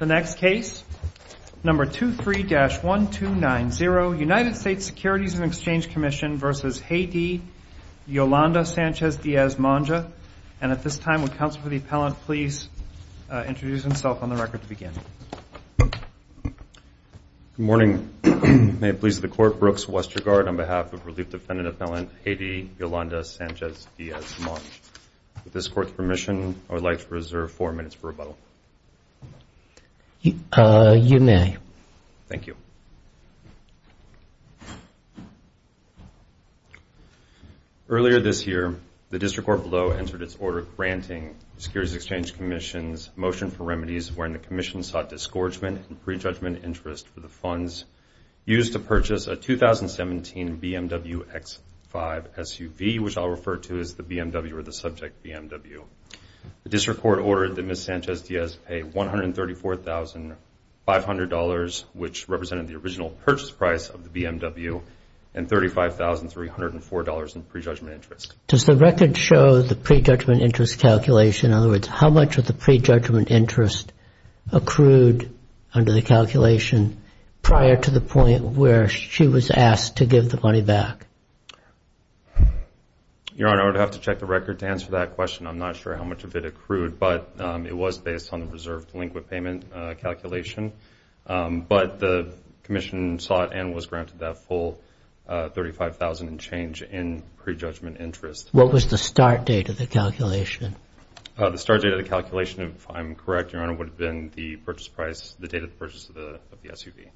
The next case, number 23-1290, United States Securities and Exchange Commission v. Hedy Yolanda Sanchez Diaz Monge. And at this time, would counsel for the appellant please introduce himself on the record to begin. Good morning. May it please the Court, Brooks Westergaard on behalf of Relief Defendant Appellant Hedy Yolanda Sanchez Diaz Monge. With this Court's permission, I would like to reserve four minutes for rebuttal. You may. Thank you. Earlier this year, the District Court below entered its order granting Securities and Exchange Commission's motion for remedies wherein the Commission sought disgorgement and prejudgment interest for the funds used to purchase a 2017 BMW X5 SUV, which I'll refer to as the BMW or the subject BMW. The District Court ordered that Ms. Sanchez Diaz pay $134,500, which represented the original purchase price of the BMW, and $35,304 in prejudgment interest. Does the record show the prejudgment interest calculation? In other words, how much of the prejudgment interest accrued under the calculation prior to the point where she was asked to give the money back? Your Honor, I would have to check the record to answer that question. I'm not sure how much of it accrued, but it was based on the reserved delinquent payment calculation. But the Commission sought and was granted that full $35,000 in change in prejudgment interest. What was the start date of the calculation? The start date of the calculation, if I'm correct, Your Honor, would have been the purchase price, the date of the purchase of the SUV.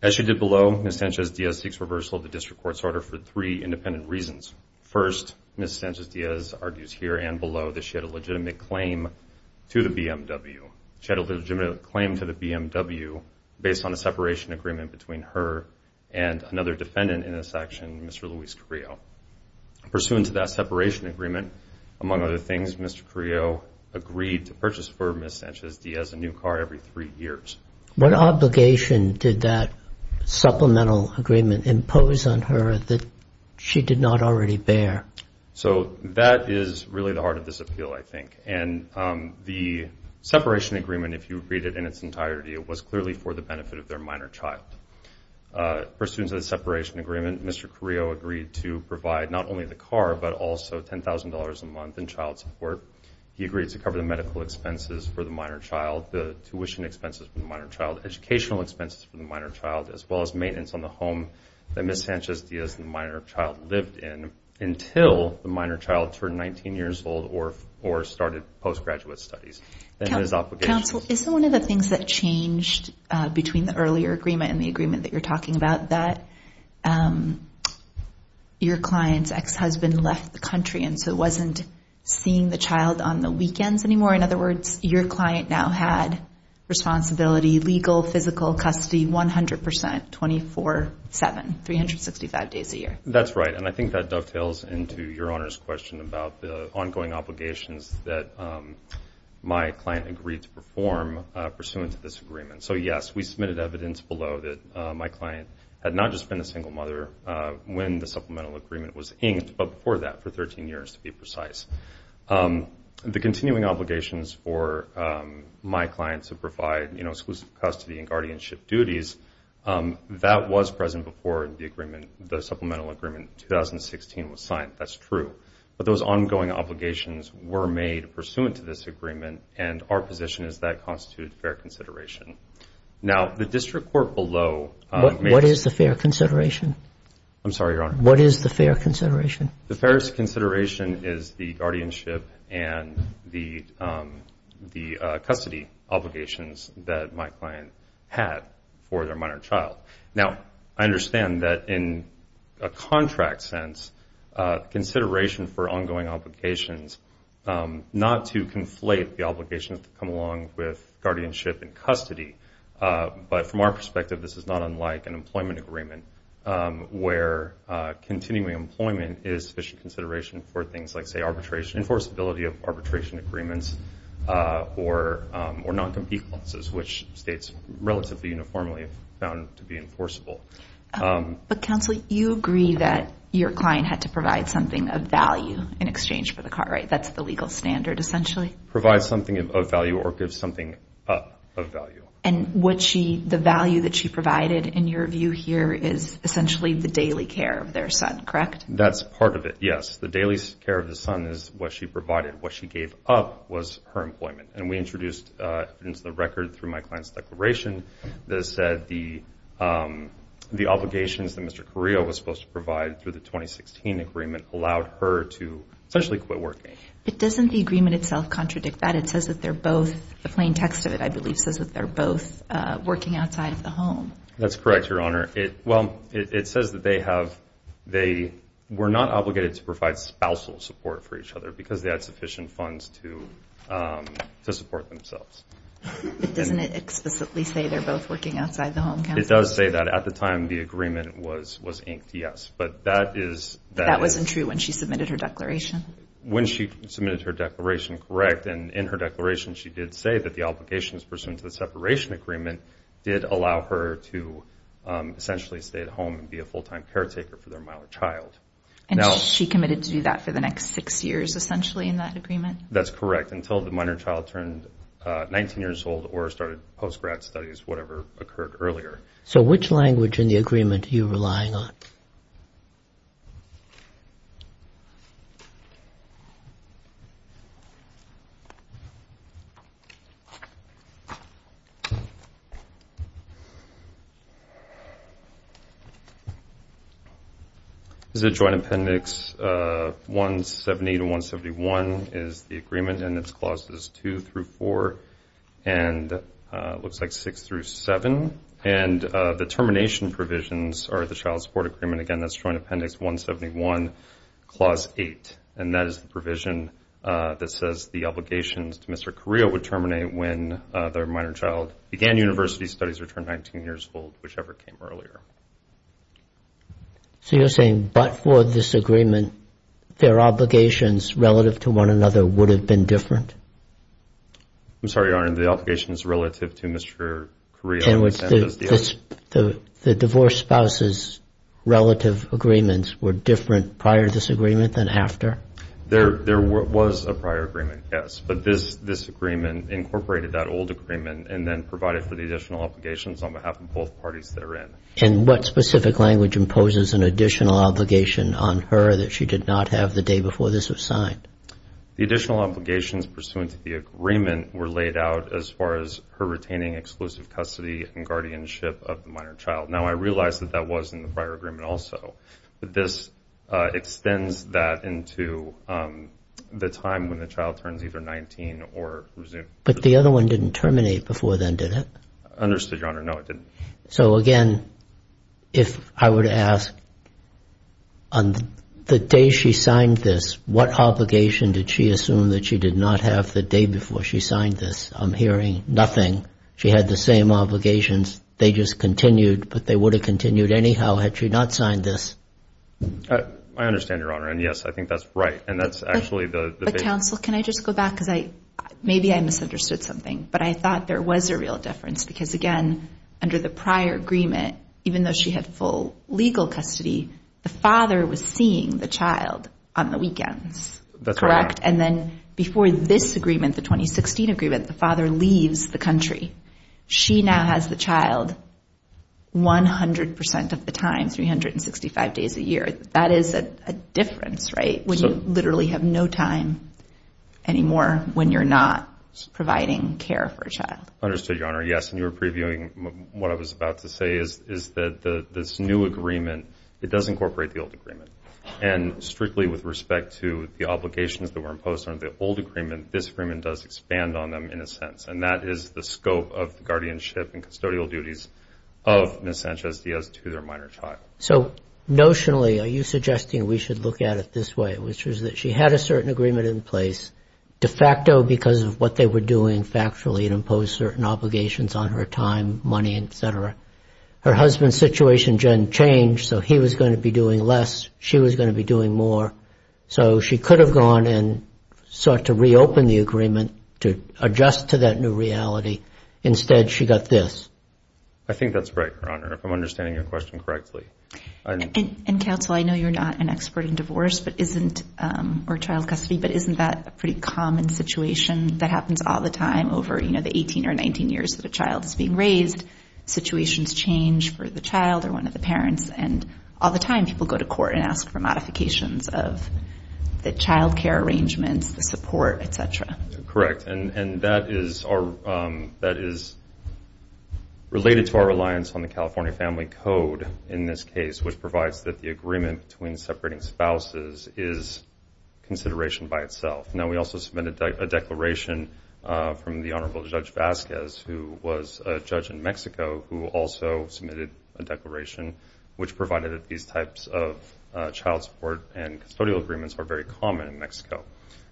As she did below, Ms. Sanchez Diaz seeks reversal of the District Court's order for three independent reasons. First, Ms. Sanchez Diaz argues here and below that she had a legitimate claim to the BMW based on a separation agreement between her and another defendant in this action, Mr. Luis Carrillo. Pursuant to that separation agreement, among other things, Mr. Carrillo agreed to purchase for Ms. Sanchez Diaz a new car every three years. What obligation did that supplemental agreement impose on her that she did not already bear? That is really the heart of this appeal, I think. The separation agreement, if you read it in its entirety, was clearly for the benefit of their minor child. Pursuant to the separation agreement, Mr. Carrillo agreed to provide not only the car, but also $10,000 a month in child support. He agreed to cover the medical expenses for the minor child, the tuition expenses for the minor child, educational expenses for the minor child, as well as maintenance on the home that Ms. Sanchez Diaz, the minor child, lived in until the minor child turned 19 years old or started postgraduate studies. Counsel, is one of the things that changed between the earlier agreement and the agreement that you're talking about that your client's ex-husband left the country and so wasn't seeing the child on the weekends anymore? In other words, your client now had responsibility, legal, physical, custody, 100 percent, 24-7, 365 days a year. That's right, and I think that dovetails into your Honor's question about the ongoing obligations that my client agreed to perform pursuant to this agreement. So, yes, we submitted evidence below that my client had not just been a single mother when the supplemental agreement was inked, but before that for 13 years, to be precise. The continuing obligations for my client to provide exclusive custody and guardianship duties, that was present before the supplemental agreement in 2016 was signed. That's true. But those ongoing obligations were made pursuant to this agreement, and our position is that constitutes fair consideration. Now, the district court below made— What is the fair consideration? I'm sorry, Your Honor. What is the fair consideration? The fairest consideration is the guardianship and the custody obligations that my client had for their minor child. Now, I understand that in a contract sense, consideration for ongoing obligations, not to conflate the obligations that come along with guardianship and custody, but from our perspective, this is not unlike an employment agreement, where continuing employment is sufficient consideration for things like, say, arbitration, enforceability of arbitration agreements, or non-compete clauses, which states relatively uniformly found to be enforceable. But, counsel, you agree that your client had to provide something of value in exchange for the car, right? That's the legal standard, essentially? Provide something of value or give something up of value. And the value that she provided, in your view here, is essentially the daily care of their son, correct? That's part of it, yes. The daily care of the son is what she provided. What she gave up was her employment. And we introduced into the record, through my client's declaration, that said the obligations that Mr. Carrillo was supposed to provide through the 2016 agreement allowed her to essentially quit working. But doesn't the agreement itself contradict that? It says that they're both, the plain text of it, I believe, says that they're both working outside of the home. That's correct, Your Honor. Well, it says that they have, they were not obligated to provide spousal support for each other because they had sufficient funds to support themselves. But doesn't it explicitly say they're both working outside the home, counsel? It does say that at the time the agreement was inked, yes. But that is... But that wasn't true when she submitted her declaration? When she submitted her declaration, correct. And in her declaration, she did say that the obligations pursuant to the separation agreement did allow her to essentially stay at home and be a full-time caretaker for their minor child. And she committed to do that for the next six years, essentially, in that agreement? That's correct, until the minor child turned 19 years old or started post-grad studies, whatever occurred earlier. So which language in the agreement are you relying on? Is it joint appendix 170 to 171 is the agreement, and its clauses 2 through 4, and it looks like 6 through 7. And the termination provisions are the child support agreement. Again, that's joint appendix 171, clause 8. And that is the provision that says the obligations to Mr. Carrillo would terminate when their minor child began university studies or turned 19 years old, whichever came earlier. So you're saying but for this agreement, their obligations relative to one another would have been different? I'm sorry, Your Honor, the obligations relative to Mr. Carrillo. The divorced spouse's relative agreements were different prior to this agreement than after? There was a prior agreement, yes, but this agreement incorporated that old agreement and then provided for the additional obligations on behalf of both parties therein. And what specific language imposes an additional obligation on her that she did not have the day before this was signed? The additional obligations pursuant to the agreement were laid out as far as her retaining exclusive custody and guardianship of the minor child. Now, I realize that that was in the prior agreement also, but this extends that into the time when the child turns either 19 or resumes. But the other one didn't terminate before then, did it? Understood, Your Honor, no, it didn't. So, again, if I were to ask, on the day she signed this, what obligation did she assume that she did not have the day before she signed this? I'm hearing nothing. She had the same obligations. They just continued, but they would have continued anyhow had she not signed this. I understand, Your Honor, and yes, I think that's right. But, counsel, can I just go back because maybe I misunderstood something, but I thought there was a real difference because, again, under the prior agreement, even though she had full legal custody, the father was seeing the child on the weekends, correct? That's right. And then before this agreement, the 2016 agreement, the father leaves the country. She now has the child 100% of the time, 365 days a year. That is a difference, right, when you literally have no time anymore when you're not providing care for a child. Understood, Your Honor. Yes, and you were previewing what I was about to say is that this new agreement, it does incorporate the old agreement. And strictly with respect to the obligations that were imposed under the old agreement, this agreement does expand on them in a sense. And that is the scope of guardianship and custodial duties of Ms. Sanchez Diaz to their minor child. So, notionally, are you suggesting we should look at it this way, which is that she had a certain agreement in place de facto because of what they were doing factually and imposed certain obligations on her time, money, et cetera. Her husband's situation didn't change, so he was going to be doing less, she was going to be doing more. So she could have gone and sought to reopen the agreement to adjust to that new reality. Instead, she got this. I think that's right, Your Honor, if I'm understanding your question correctly. And, counsel, I know you're not an expert in divorce or child custody, but isn't that a pretty common situation that happens all the time over the 18 or 19 years that a child is being raised? Situations change for the child or one of the parents, and all the time people go to court and ask for modifications of the child care arrangements, the support, et cetera. Correct. And that is related to our reliance on the California Family Code in this case, which provides that the agreement between separating spouses is consideration by itself. Now, we also submitted a declaration from the Honorable Judge Vasquez, who was a judge in Mexico, who also submitted a declaration which provided that these types of child support and custodial agreements are very common in Mexico.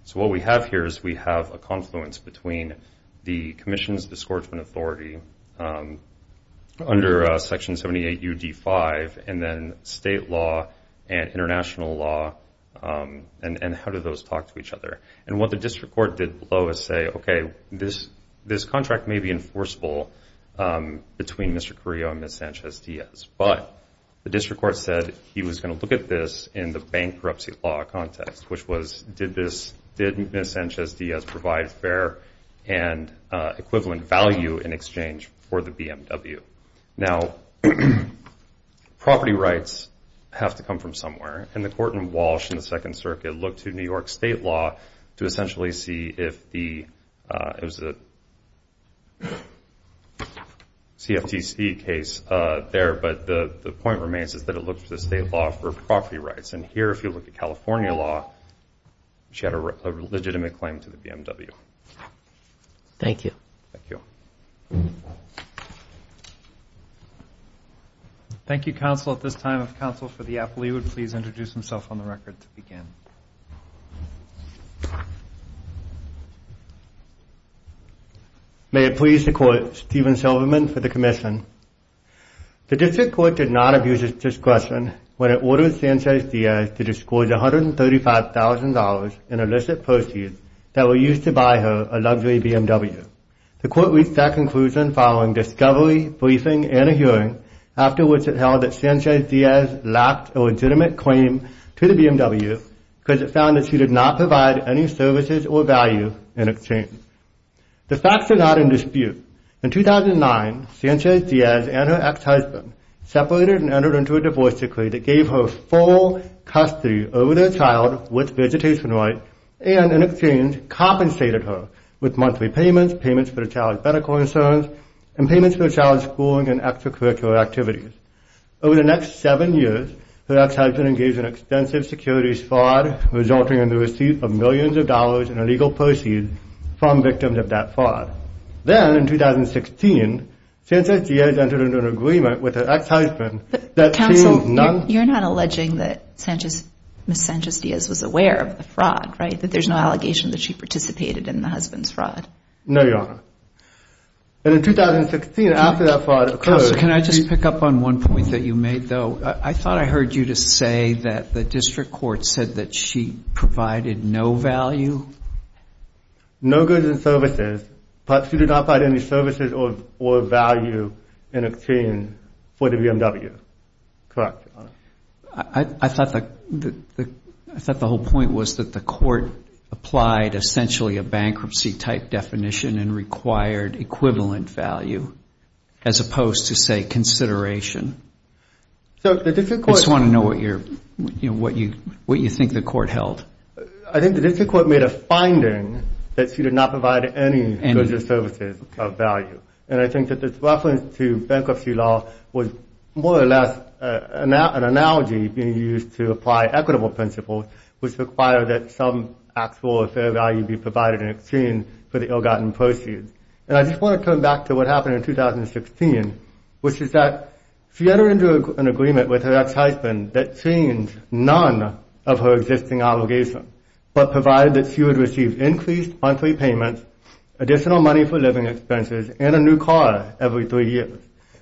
So what we have here is we have a confluence between the Commission's Discouragement Authority under Section 78 U.D. 5 and then state law and international law, and how do those talk to each other. And what the district court did below is say, okay, this contract may be enforceable between Mr. Carrillo and Ms. Sanchez-Diaz, but the district court said he was going to look at this in the bankruptcy law context, which was did Ms. Sanchez-Diaz provide fair and equivalent value in exchange for the BMW. Now, property rights have to come from somewhere, and the Court in Walsh in the Second Circuit looked to New York state law to essentially see if the CFTC case there, but the point remains is that it looked to the state law for property rights. And here, if you look at California law, she had a legitimate claim to the BMW. Thank you. Thank you. Thank you, counsel. At this time, if counsel for the appellee would please introduce himself on the record to begin. May it please the Court, Stephen Silverman for the Commission. The district court did not abuse its discretion when it ordered Sanchez-Diaz to disclose $135,000 in illicit proceeds that were used to buy her a luxury BMW. The court reached that conclusion following discovery, briefing, and a hearing, after which it held that Sanchez-Diaz lacked a legitimate claim to the BMW because it found that she did not provide any services or value in exchange. The facts are not in dispute. In 2009, Sanchez-Diaz and her ex-husband separated and entered into a divorce decree that gave her full custody over their child with vegetation rights and, in exchange, compensated her with monthly payments, payments for their child's medical concerns, and payments for their child's schooling and extracurricular activities. Over the next seven years, her ex-husband engaged in extensive securities fraud, resulting in the receipt of millions of dollars in illegal proceeds from victims of that fraud. Then, in 2016, Sanchez-Diaz entered into an agreement with her ex-husband that she was not— But, counsel, you're not alleging that Ms. Sanchez-Diaz was aware of the fraud, right, that there's no allegation that she participated in the husband's fraud? No, Your Honor. And in 2016, after that fraud occurred— Counsel, can I just pick up on one point that you made, though? I thought I heard you just say that the district court said that she provided no value? No goods and services, but she did not provide any services or value in exchange for the BMW. Correct, Your Honor. I thought the whole point was that the court applied essentially a bankruptcy-type definition and required equivalent value as opposed to, say, consideration. I just want to know what you think the court held. I think the district court made a finding that she did not provide any goods or services of value. And I think that this reference to bankruptcy law was more or less an analogy being used to apply equitable principles which require that some actual or fair value be provided in exchange for the ill-gotten proceeds. And I just want to come back to what happened in 2016, which is that she entered into an agreement with her ex-husband that changed none of her existing obligations but provided that she would receive increased monthly payments, additional money for living expenses, and a new car every three years.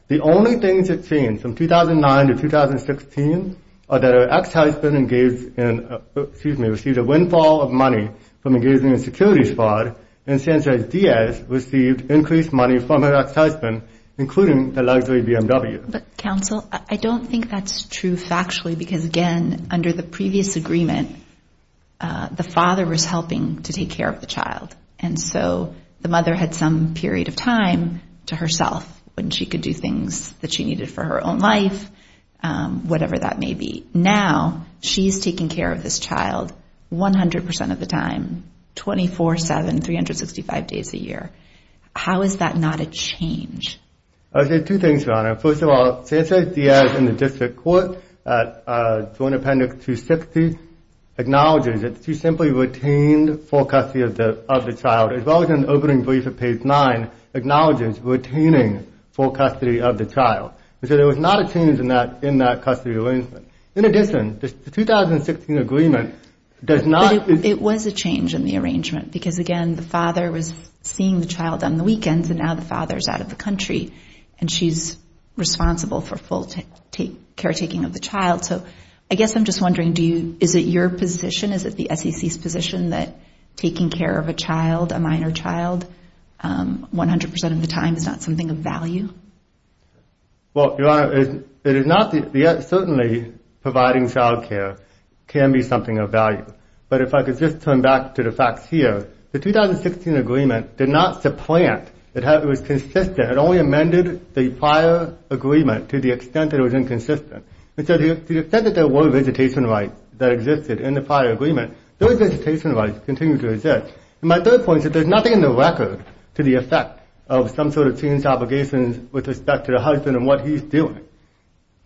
The only things that changed from 2009 to 2016 are that her ex-husband received a windfall of money from engaging in security fraud and Sanchez-Diaz received increased money from her ex-husband, including the luxury BMW. But, counsel, I don't think that's true factually because, again, under the previous agreement, the father was helping to take care of the child, and so the mother had some period of time to herself when she could do things that she needed for her own life, whatever that may be. Now, she's taking care of this child 100% of the time, 24-7, 365 days a year. How is that not a change? I would say two things, Your Honor. First of all, Sanchez-Diaz in the district court, Joint Appendix 260, acknowledges that she simply retained full custody of the child, as well as in the opening brief of page 9, acknowledges retaining full custody of the child. So there was not a change in that custody arrangement. In addition, the 2016 agreement does not- But it was a change in the arrangement because, again, the father was seeing the child on the weekends, and now the father is out of the country, and she's responsible for full caretaking of the child. So I guess I'm just wondering, is it your position, is it the SEC's position, that taking care of a child, a minor child, 100% of the time is not something of value? Well, Your Honor, it is not. Certainly, providing child care can be something of value. But if I could just turn back to the facts here, the 2016 agreement did not supplant. It was consistent. It only amended the prior agreement to the extent that it was inconsistent. And so to the extent that there were visitation rights that existed in the prior agreement, those visitation rights continue to exist. And my third point is that there's nothing in the record to the effect of some sort of changed obligations with respect to the husband and what he's doing.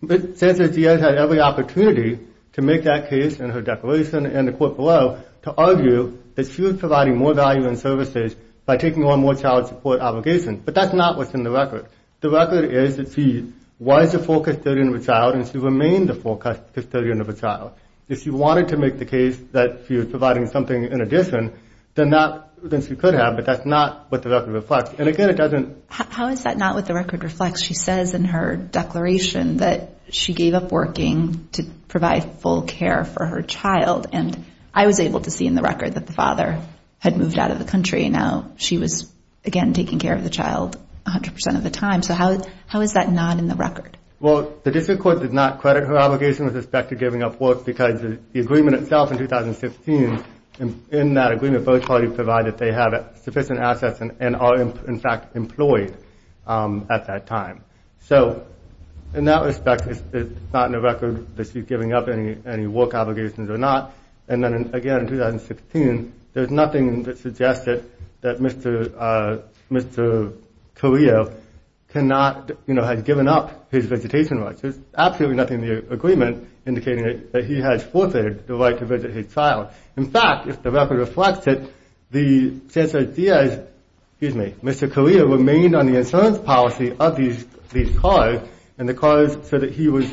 But Sandra Diaz had every opportunity to make that case in her declaration and the court below to argue that she was providing more value in services by taking on more child support obligations. But that's not what's in the record. The record is that she was a full custodian of a child and she remained a full custodian of a child. If she wanted to make the case that she was providing something in addition, then she could have, but that's not what the record reflects. And, again, it doesn't – How is that not what the record reflects? She says in her declaration that she gave up working to provide full care for her child, and I was able to see in the record that the father had moved out of the country. Now she was, again, taking care of the child 100% of the time. So how is that not in the record? Well, the district court did not credit her obligation with respect to giving up work because the agreement itself in 2016, in that agreement, both parties provide that they have sufficient assets and are, in fact, employed at that time. So in that respect, it's not in the record that she's giving up any work obligations or not. And then, again, in 2016, there's nothing that suggests that Mr. Carrillo cannot, you know, has given up his vegetation rights. There's absolutely nothing in the agreement indicating that he has forfeited the right to visit his child. In fact, if the record reflects it, the sense of the idea is, excuse me, Mr. Carrillo remained on the insurance policy of these cars and the cars so that he was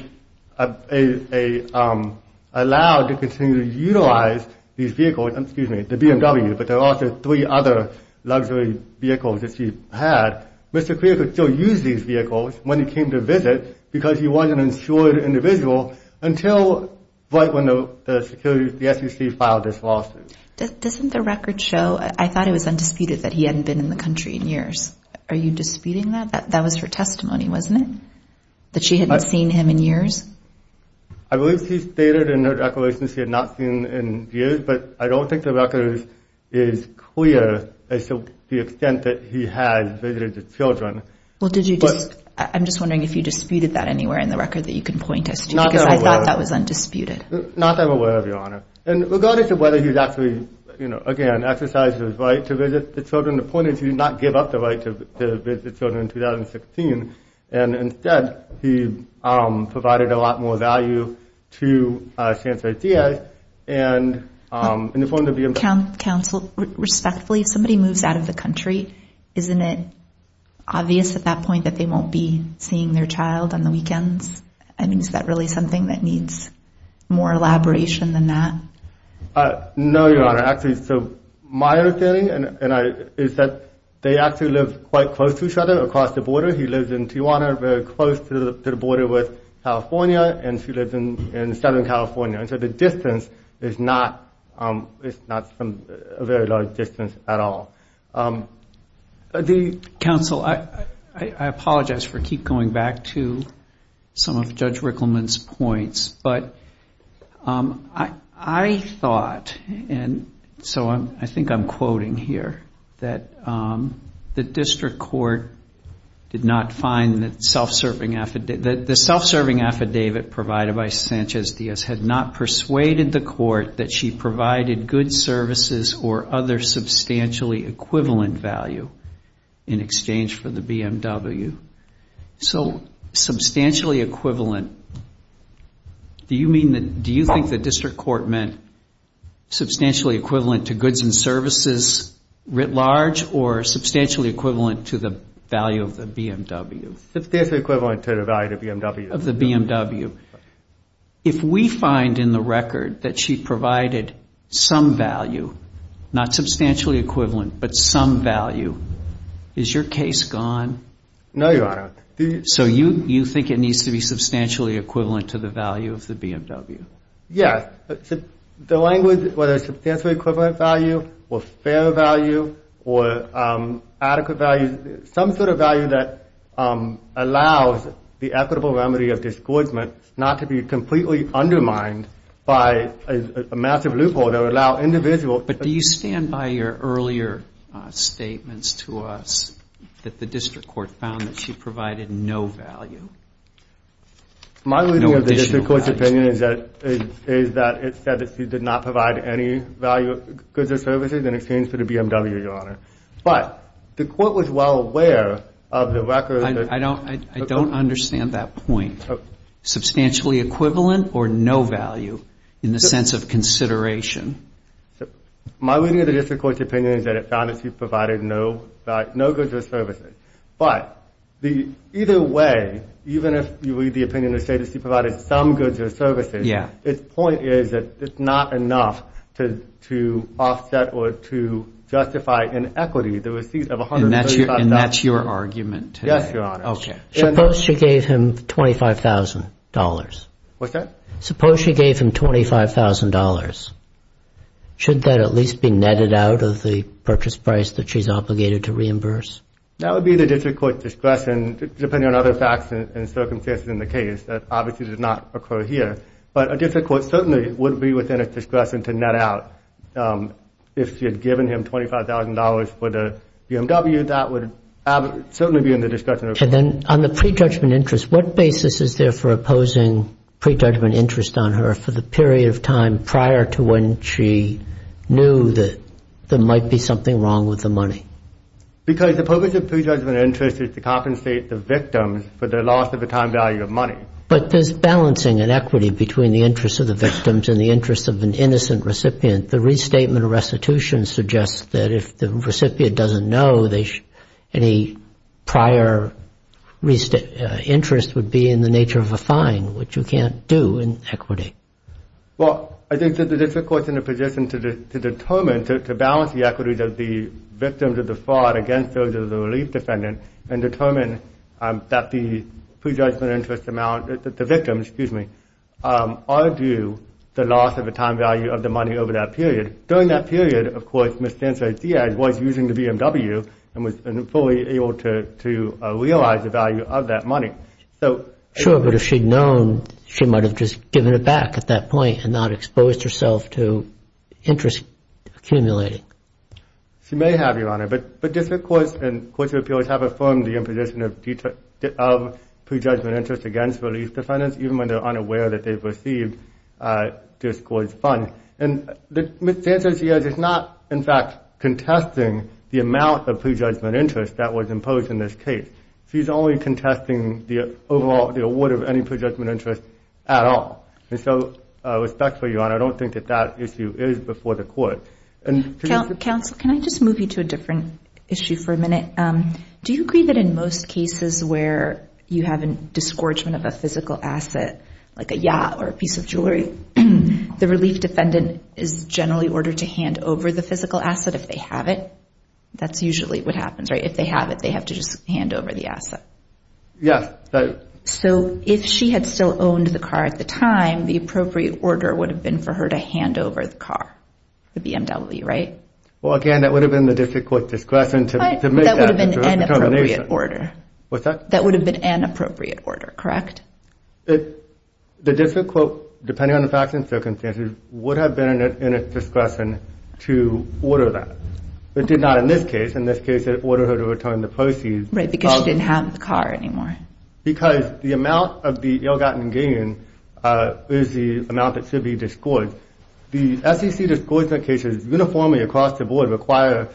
allowed to continue to utilize these vehicles, excuse me, the BMW, but there are also three other luxury vehicles that she had. Mr. Carrillo could still use these vehicles when he came to visit because he was an insured individual until right when the SEC filed this lawsuit. Doesn't the record show, I thought it was undisputed, that he hadn't been in the country in years. Are you disputing that? That was her testimony, wasn't it, that she hadn't seen him in years? I believe she stated in her declaration she had not seen him in years, but I don't think the record is clear as to the extent that he has visited the children. Well, did you just—I'm just wondering if you disputed that anywhere in the record that you can point us to because I thought that was undisputed. Not that I'm aware of, Your Honor. And regardless of whether he's actually, you know, again, exercised his right to visit the children, the point is he did not give up the right to visit the children in 2016, and instead he provided a lot more value to San Jose TA and informed the BMW. Counsel, respectfully, if somebody moves out of the country, isn't it obvious at that point that they won't be seeing their child on the weekends? I mean, is that really something that needs more elaboration than that? No, Your Honor. Actually, so my understanding is that they actually live quite close to each other across the border. He lives in Tijuana, very close to the border with California, and she lives in Southern California. So the distance is not a very large distance at all. Counsel, I apologize for keep going back to some of Judge Rickleman's points, but I thought, and so I think I'm quoting here, that the district court did not find the self-serving affidavit provided by Sanchez-Diaz had not persuaded the court that she provided good services or other substantially equivalent value in exchange for the BMW. So substantially equivalent, do you think the district court meant substantially equivalent to goods and services writ large or substantially equivalent to the value of the BMW? Substantially equivalent to the value of the BMW. Of the BMW. If we find in the record that she provided some value, not substantially equivalent, but some value, is your case gone? No, Your Honor. So you think it needs to be substantially equivalent to the value of the BMW? Yes. The language, whether it's substantially equivalent value or fair value or adequate value, some sort of value that allows the equitable remedy of disgorgement not to be completely undermined by a massive loophole that would allow individuals... But do you stand by your earlier statements to us that the district court found that she provided no value? My reading of the district court's opinion is that it said that she did not provide any value, goods or services in exchange for the BMW, Your Honor. But the court was well aware of the record... I don't understand that point. Substantially equivalent or no value in the sense of consideration? My reading of the district court's opinion is that it found that she provided no goods or services. But either way, even if you read the opinion to say that she provided some goods or services, its point is that it's not enough to offset or to justify in equity the receipts of $135,000. And that's your argument? Yes, Your Honor. What's that? She's being netted out of the purchase price that she's obligated to reimburse? That would be the district court's discretion, depending on other facts and circumstances in the case. That obviously did not occur here. But a district court certainly would be within its discretion to net out. If she had given him $25,000 for the BMW, that would certainly be in the discretion of the district court. And then on the pre-judgment interest, what basis is there for opposing pre-judgment interest on her for the period of time prior to when she knew that there might be something wrong with the money? Because the purpose of pre-judgment interest is to compensate the victims for their loss of a time value of money. But there's balancing in equity between the interests of the victims and the interests of an innocent recipient. The restatement of restitution suggests that if the recipient doesn't know, any prior interest would be in the nature of a fine, which you can't do in equity. Well, I think that the district court's in a position to determine, to balance the equities of the victims of the fraud against those of the relief defendant and determine that the pre-judgment interest amount, the victims, excuse me, are due the loss of a time value of the money over that period. During that period, of course, Ms. Sanchez-Diaz was using the BMW and was fully able to realize the value of that money. Sure, but if she'd known, she might have just given it back at that point and not exposed herself to interest accumulating. She may have, Your Honor. But district courts and courts of appeals have affirmed the imposition of pre-judgment interest against relief defendants, even when they're unaware that they've received this court's funds. And Ms. Sanchez-Diaz is not, in fact, contesting the amount of pre-judgment interest that was imposed in this case. She's only contesting the overall award of any pre-judgment interest at all. And so, respectfully, Your Honor, I don't think that that issue is before the court. Counsel, can I just move you to a different issue for a minute? Do you agree that in most cases where you have a disgorgement of a physical asset, like a yacht or a piece of jewelry, the relief defendant is generally ordered to hand over the physical asset if they have it? That's usually what happens, right? If they have it, they have to just hand over the asset. Yes. So if she had still owned the car at the time, the appropriate order would have been for her to hand over the car, the BMW, right? Well, again, that would have been the district court's discretion to make that determination. But that would have been an appropriate order. What's that? That would have been an appropriate order, correct? The district court, depending on the facts and circumstances, would have been in a discretion to order that. It did not in this case. In this case, they ordered her to return the proceeds. Right, because she didn't have the car anymore. Because the amount of the ill-gotten gain is the amount that should be disgorged. The SEC disgorgement cases uniformly across the board require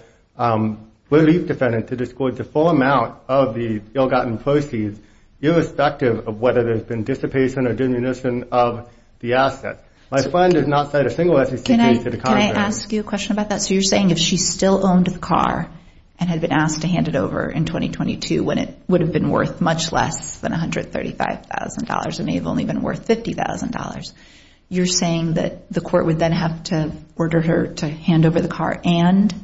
relief defendants to disgorge the full amount of the ill-gotten proceeds, irrespective of whether there's been dissipation or diminution of the asset. My friend did not cite a single SEC case to the contrary. Can I ask you a question about that? So you're saying if she still owned the car and had been asked to hand it over in 2022 when it would have been worth much less than $135,000, it may have only been worth $50,000, you're saying that the court would then have to order her to hand over the car and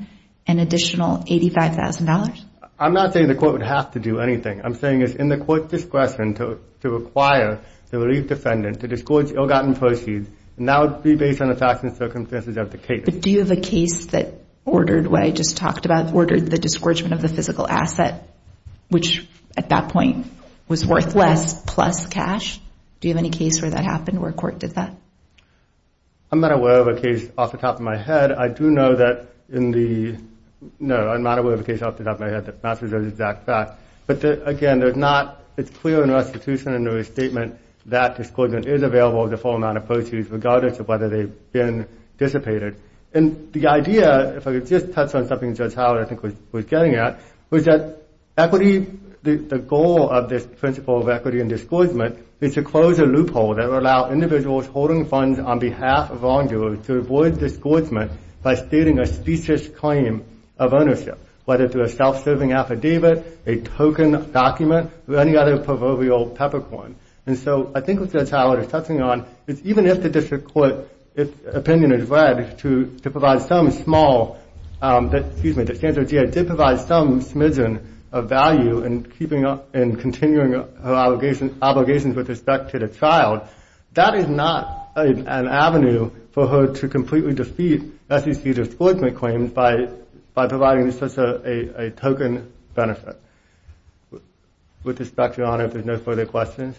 an additional $85,000? I'm not saying the court would have to do anything. I'm saying it's in the court's discretion to require the relief defendant to disgorge ill-gotten proceeds, and that would be based on the facts and circumstances of the case. But do you have a case that ordered what I just talked about, ordered the disgorgement of the physical asset, which at that point was worth less, plus cash? Do you have any case where that happened, where a court did that? I'm not aware of a case off the top of my head. I do know that in the – no, I'm not aware of a case off the top of my head that matches those exact facts. But, again, there's not – it's clear in the restitution and in the restatement that disgorgement is available with a full amount of proceeds, regardless of whether they've been dissipated. And the idea, if I could just touch on something Judge Howard, I think, was getting at, was that equity – the goal of this principle of equity and disgorgement is to close a loophole that would allow individuals holding funds on behalf of wrongdoers to avoid disgorgement by stating a specious claim of ownership, whether through a self-serving affidavit, a token document, or any other proverbial peppercorn. And so I think what Judge Howard is touching on is even if the district court's opinion is read to provide some small – excuse me, that Sanford G.I. did provide some smidgen of value in keeping – in continuing her obligations with respect to the child, that is not an avenue for her to completely defeat SEC disgorgement claims by providing such a token benefit. With respect, Your Honor, if there's no further questions,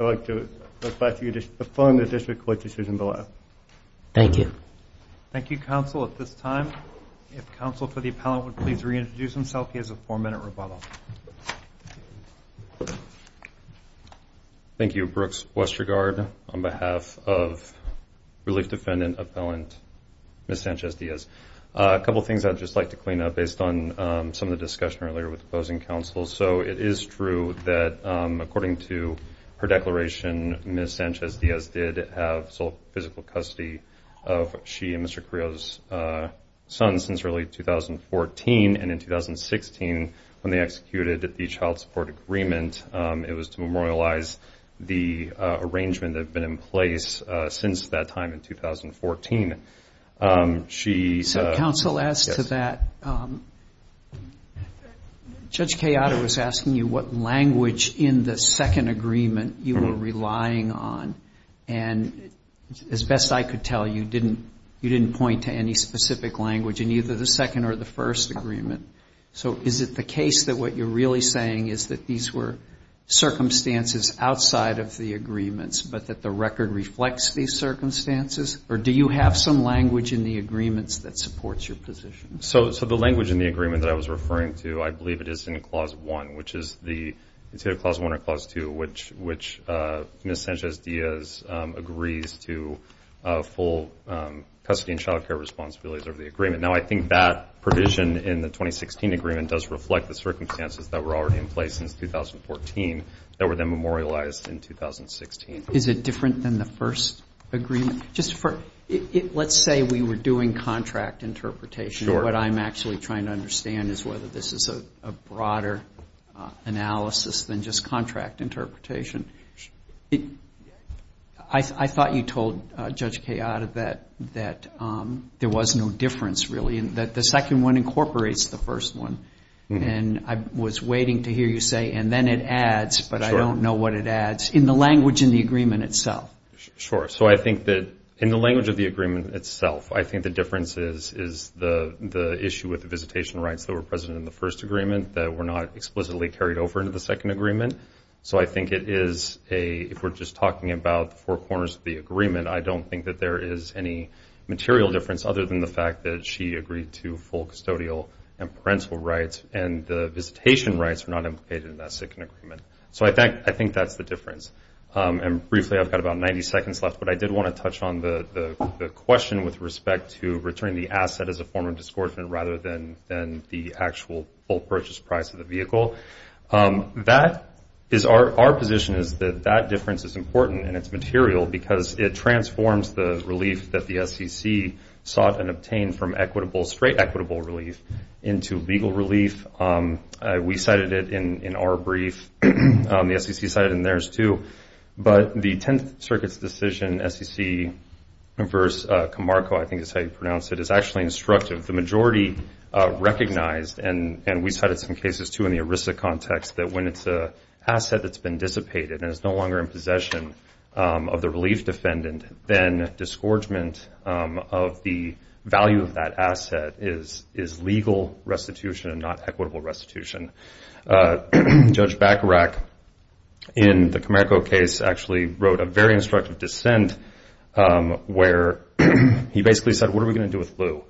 I'd like to request that you affirm the district court's decision below. Thank you. Thank you, counsel. At this time, if counsel for the appellant would please reintroduce himself. He has a four-minute rebuttal. Thank you, Brooks Westergaard, on behalf of Relief Defendant Appellant Ms. Sanchez-Diaz. A couple of things I'd just like to clean up based on some of the discussion earlier with opposing counsel. So it is true that according to her declaration, Ms. Sanchez-Diaz did have sole physical custody of she and Mr. Carrillo's son since early 2014, and in 2016 when they executed the child support agreement, it was to memorialize the arrangement that had been in place since that time in 2014. So counsel, as to that, Judge Kayada was asking you what language in the second agreement you were relying on, and as best I could tell, you didn't point to any specific language in either the second or the first agreement. So is it the case that what you're really saying is that these were circumstances outside of the agreements but that the record reflects these circumstances, or do you have some language in the agreements that supports your position? So the language in the agreement that I was referring to, I believe it is in Clause 1, which is the Clause 1 or Clause 2, which Ms. Sanchez-Diaz agrees to full custody and child care responsibilities of the agreement. Now, I think that provision in the 2016 agreement does reflect the circumstances that were already in place since 2014 that were then memorialized in 2016. Is it different than the first agreement? Let's say we were doing contract interpretation. What I'm actually trying to understand is whether this is a broader analysis than just contract interpretation. I thought you told Judge Kayada that there was no difference, really, and that the second one incorporates the first one, and I was waiting to hear you say, and then it adds, but I don't know what it adds, in the language in the agreement itself. Sure. So I think that in the language of the agreement itself, I think the difference is the issue with the visitation rights that were present in the first agreement that were not explicitly carried over into the second agreement. So I think it is a, if we're just talking about the four corners of the agreement, I don't think that there is any material difference other than the fact that she agreed to full custodial and parental rights, and the visitation rights are not implicated in that second agreement. So I think that's the difference. And briefly, I've got about 90 seconds left, but I did want to touch on the question with respect to returning the asset as a form of discouragement rather than the actual full purchase price of the vehicle. Our position is that that difference is important and it's material because it transforms the relief that the SEC sought and obtained from equitable, straight equitable relief into legal relief. We cited it in our brief. The SEC cited it in theirs, too. But the Tenth Circuit's decision, SEC v. Camargo, I think is how you pronounce it, is actually instructive. The majority recognized, and we cited some cases, too, in the ERISA context, that when it's an asset that's been dissipated and is no longer in possession of the relief defendant, then disgorgement of the value of that asset is legal restitution and not equitable restitution. Judge Bacharach, in the Camargo case, actually wrote a very instructive dissent where he basically said, what are we going to do with Lew?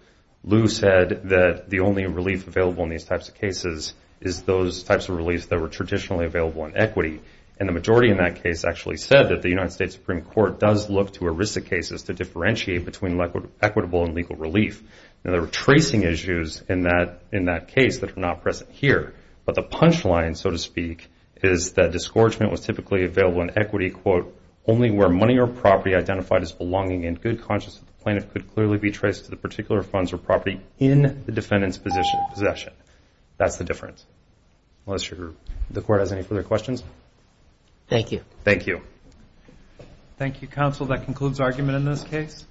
Lew said that the only relief available in these types of cases is those types of reliefs that were traditionally available in equity, and the majority in that case actually said that the United States Supreme Court does look to ERISA cases to differentiate between equitable and legal relief. Now, there were tracing issues in that case that are not present here, but the punchline, so to speak, is that disgorgement was typically available in equity, quote, only where money or property identified as belonging in good conscience of the plaintiff could clearly be traced to the particular funds or property in the defendant's possession. That's the difference. Unless the Court has any further questions. Thank you. Thank you. Thank you, counsel. That concludes argument in this case.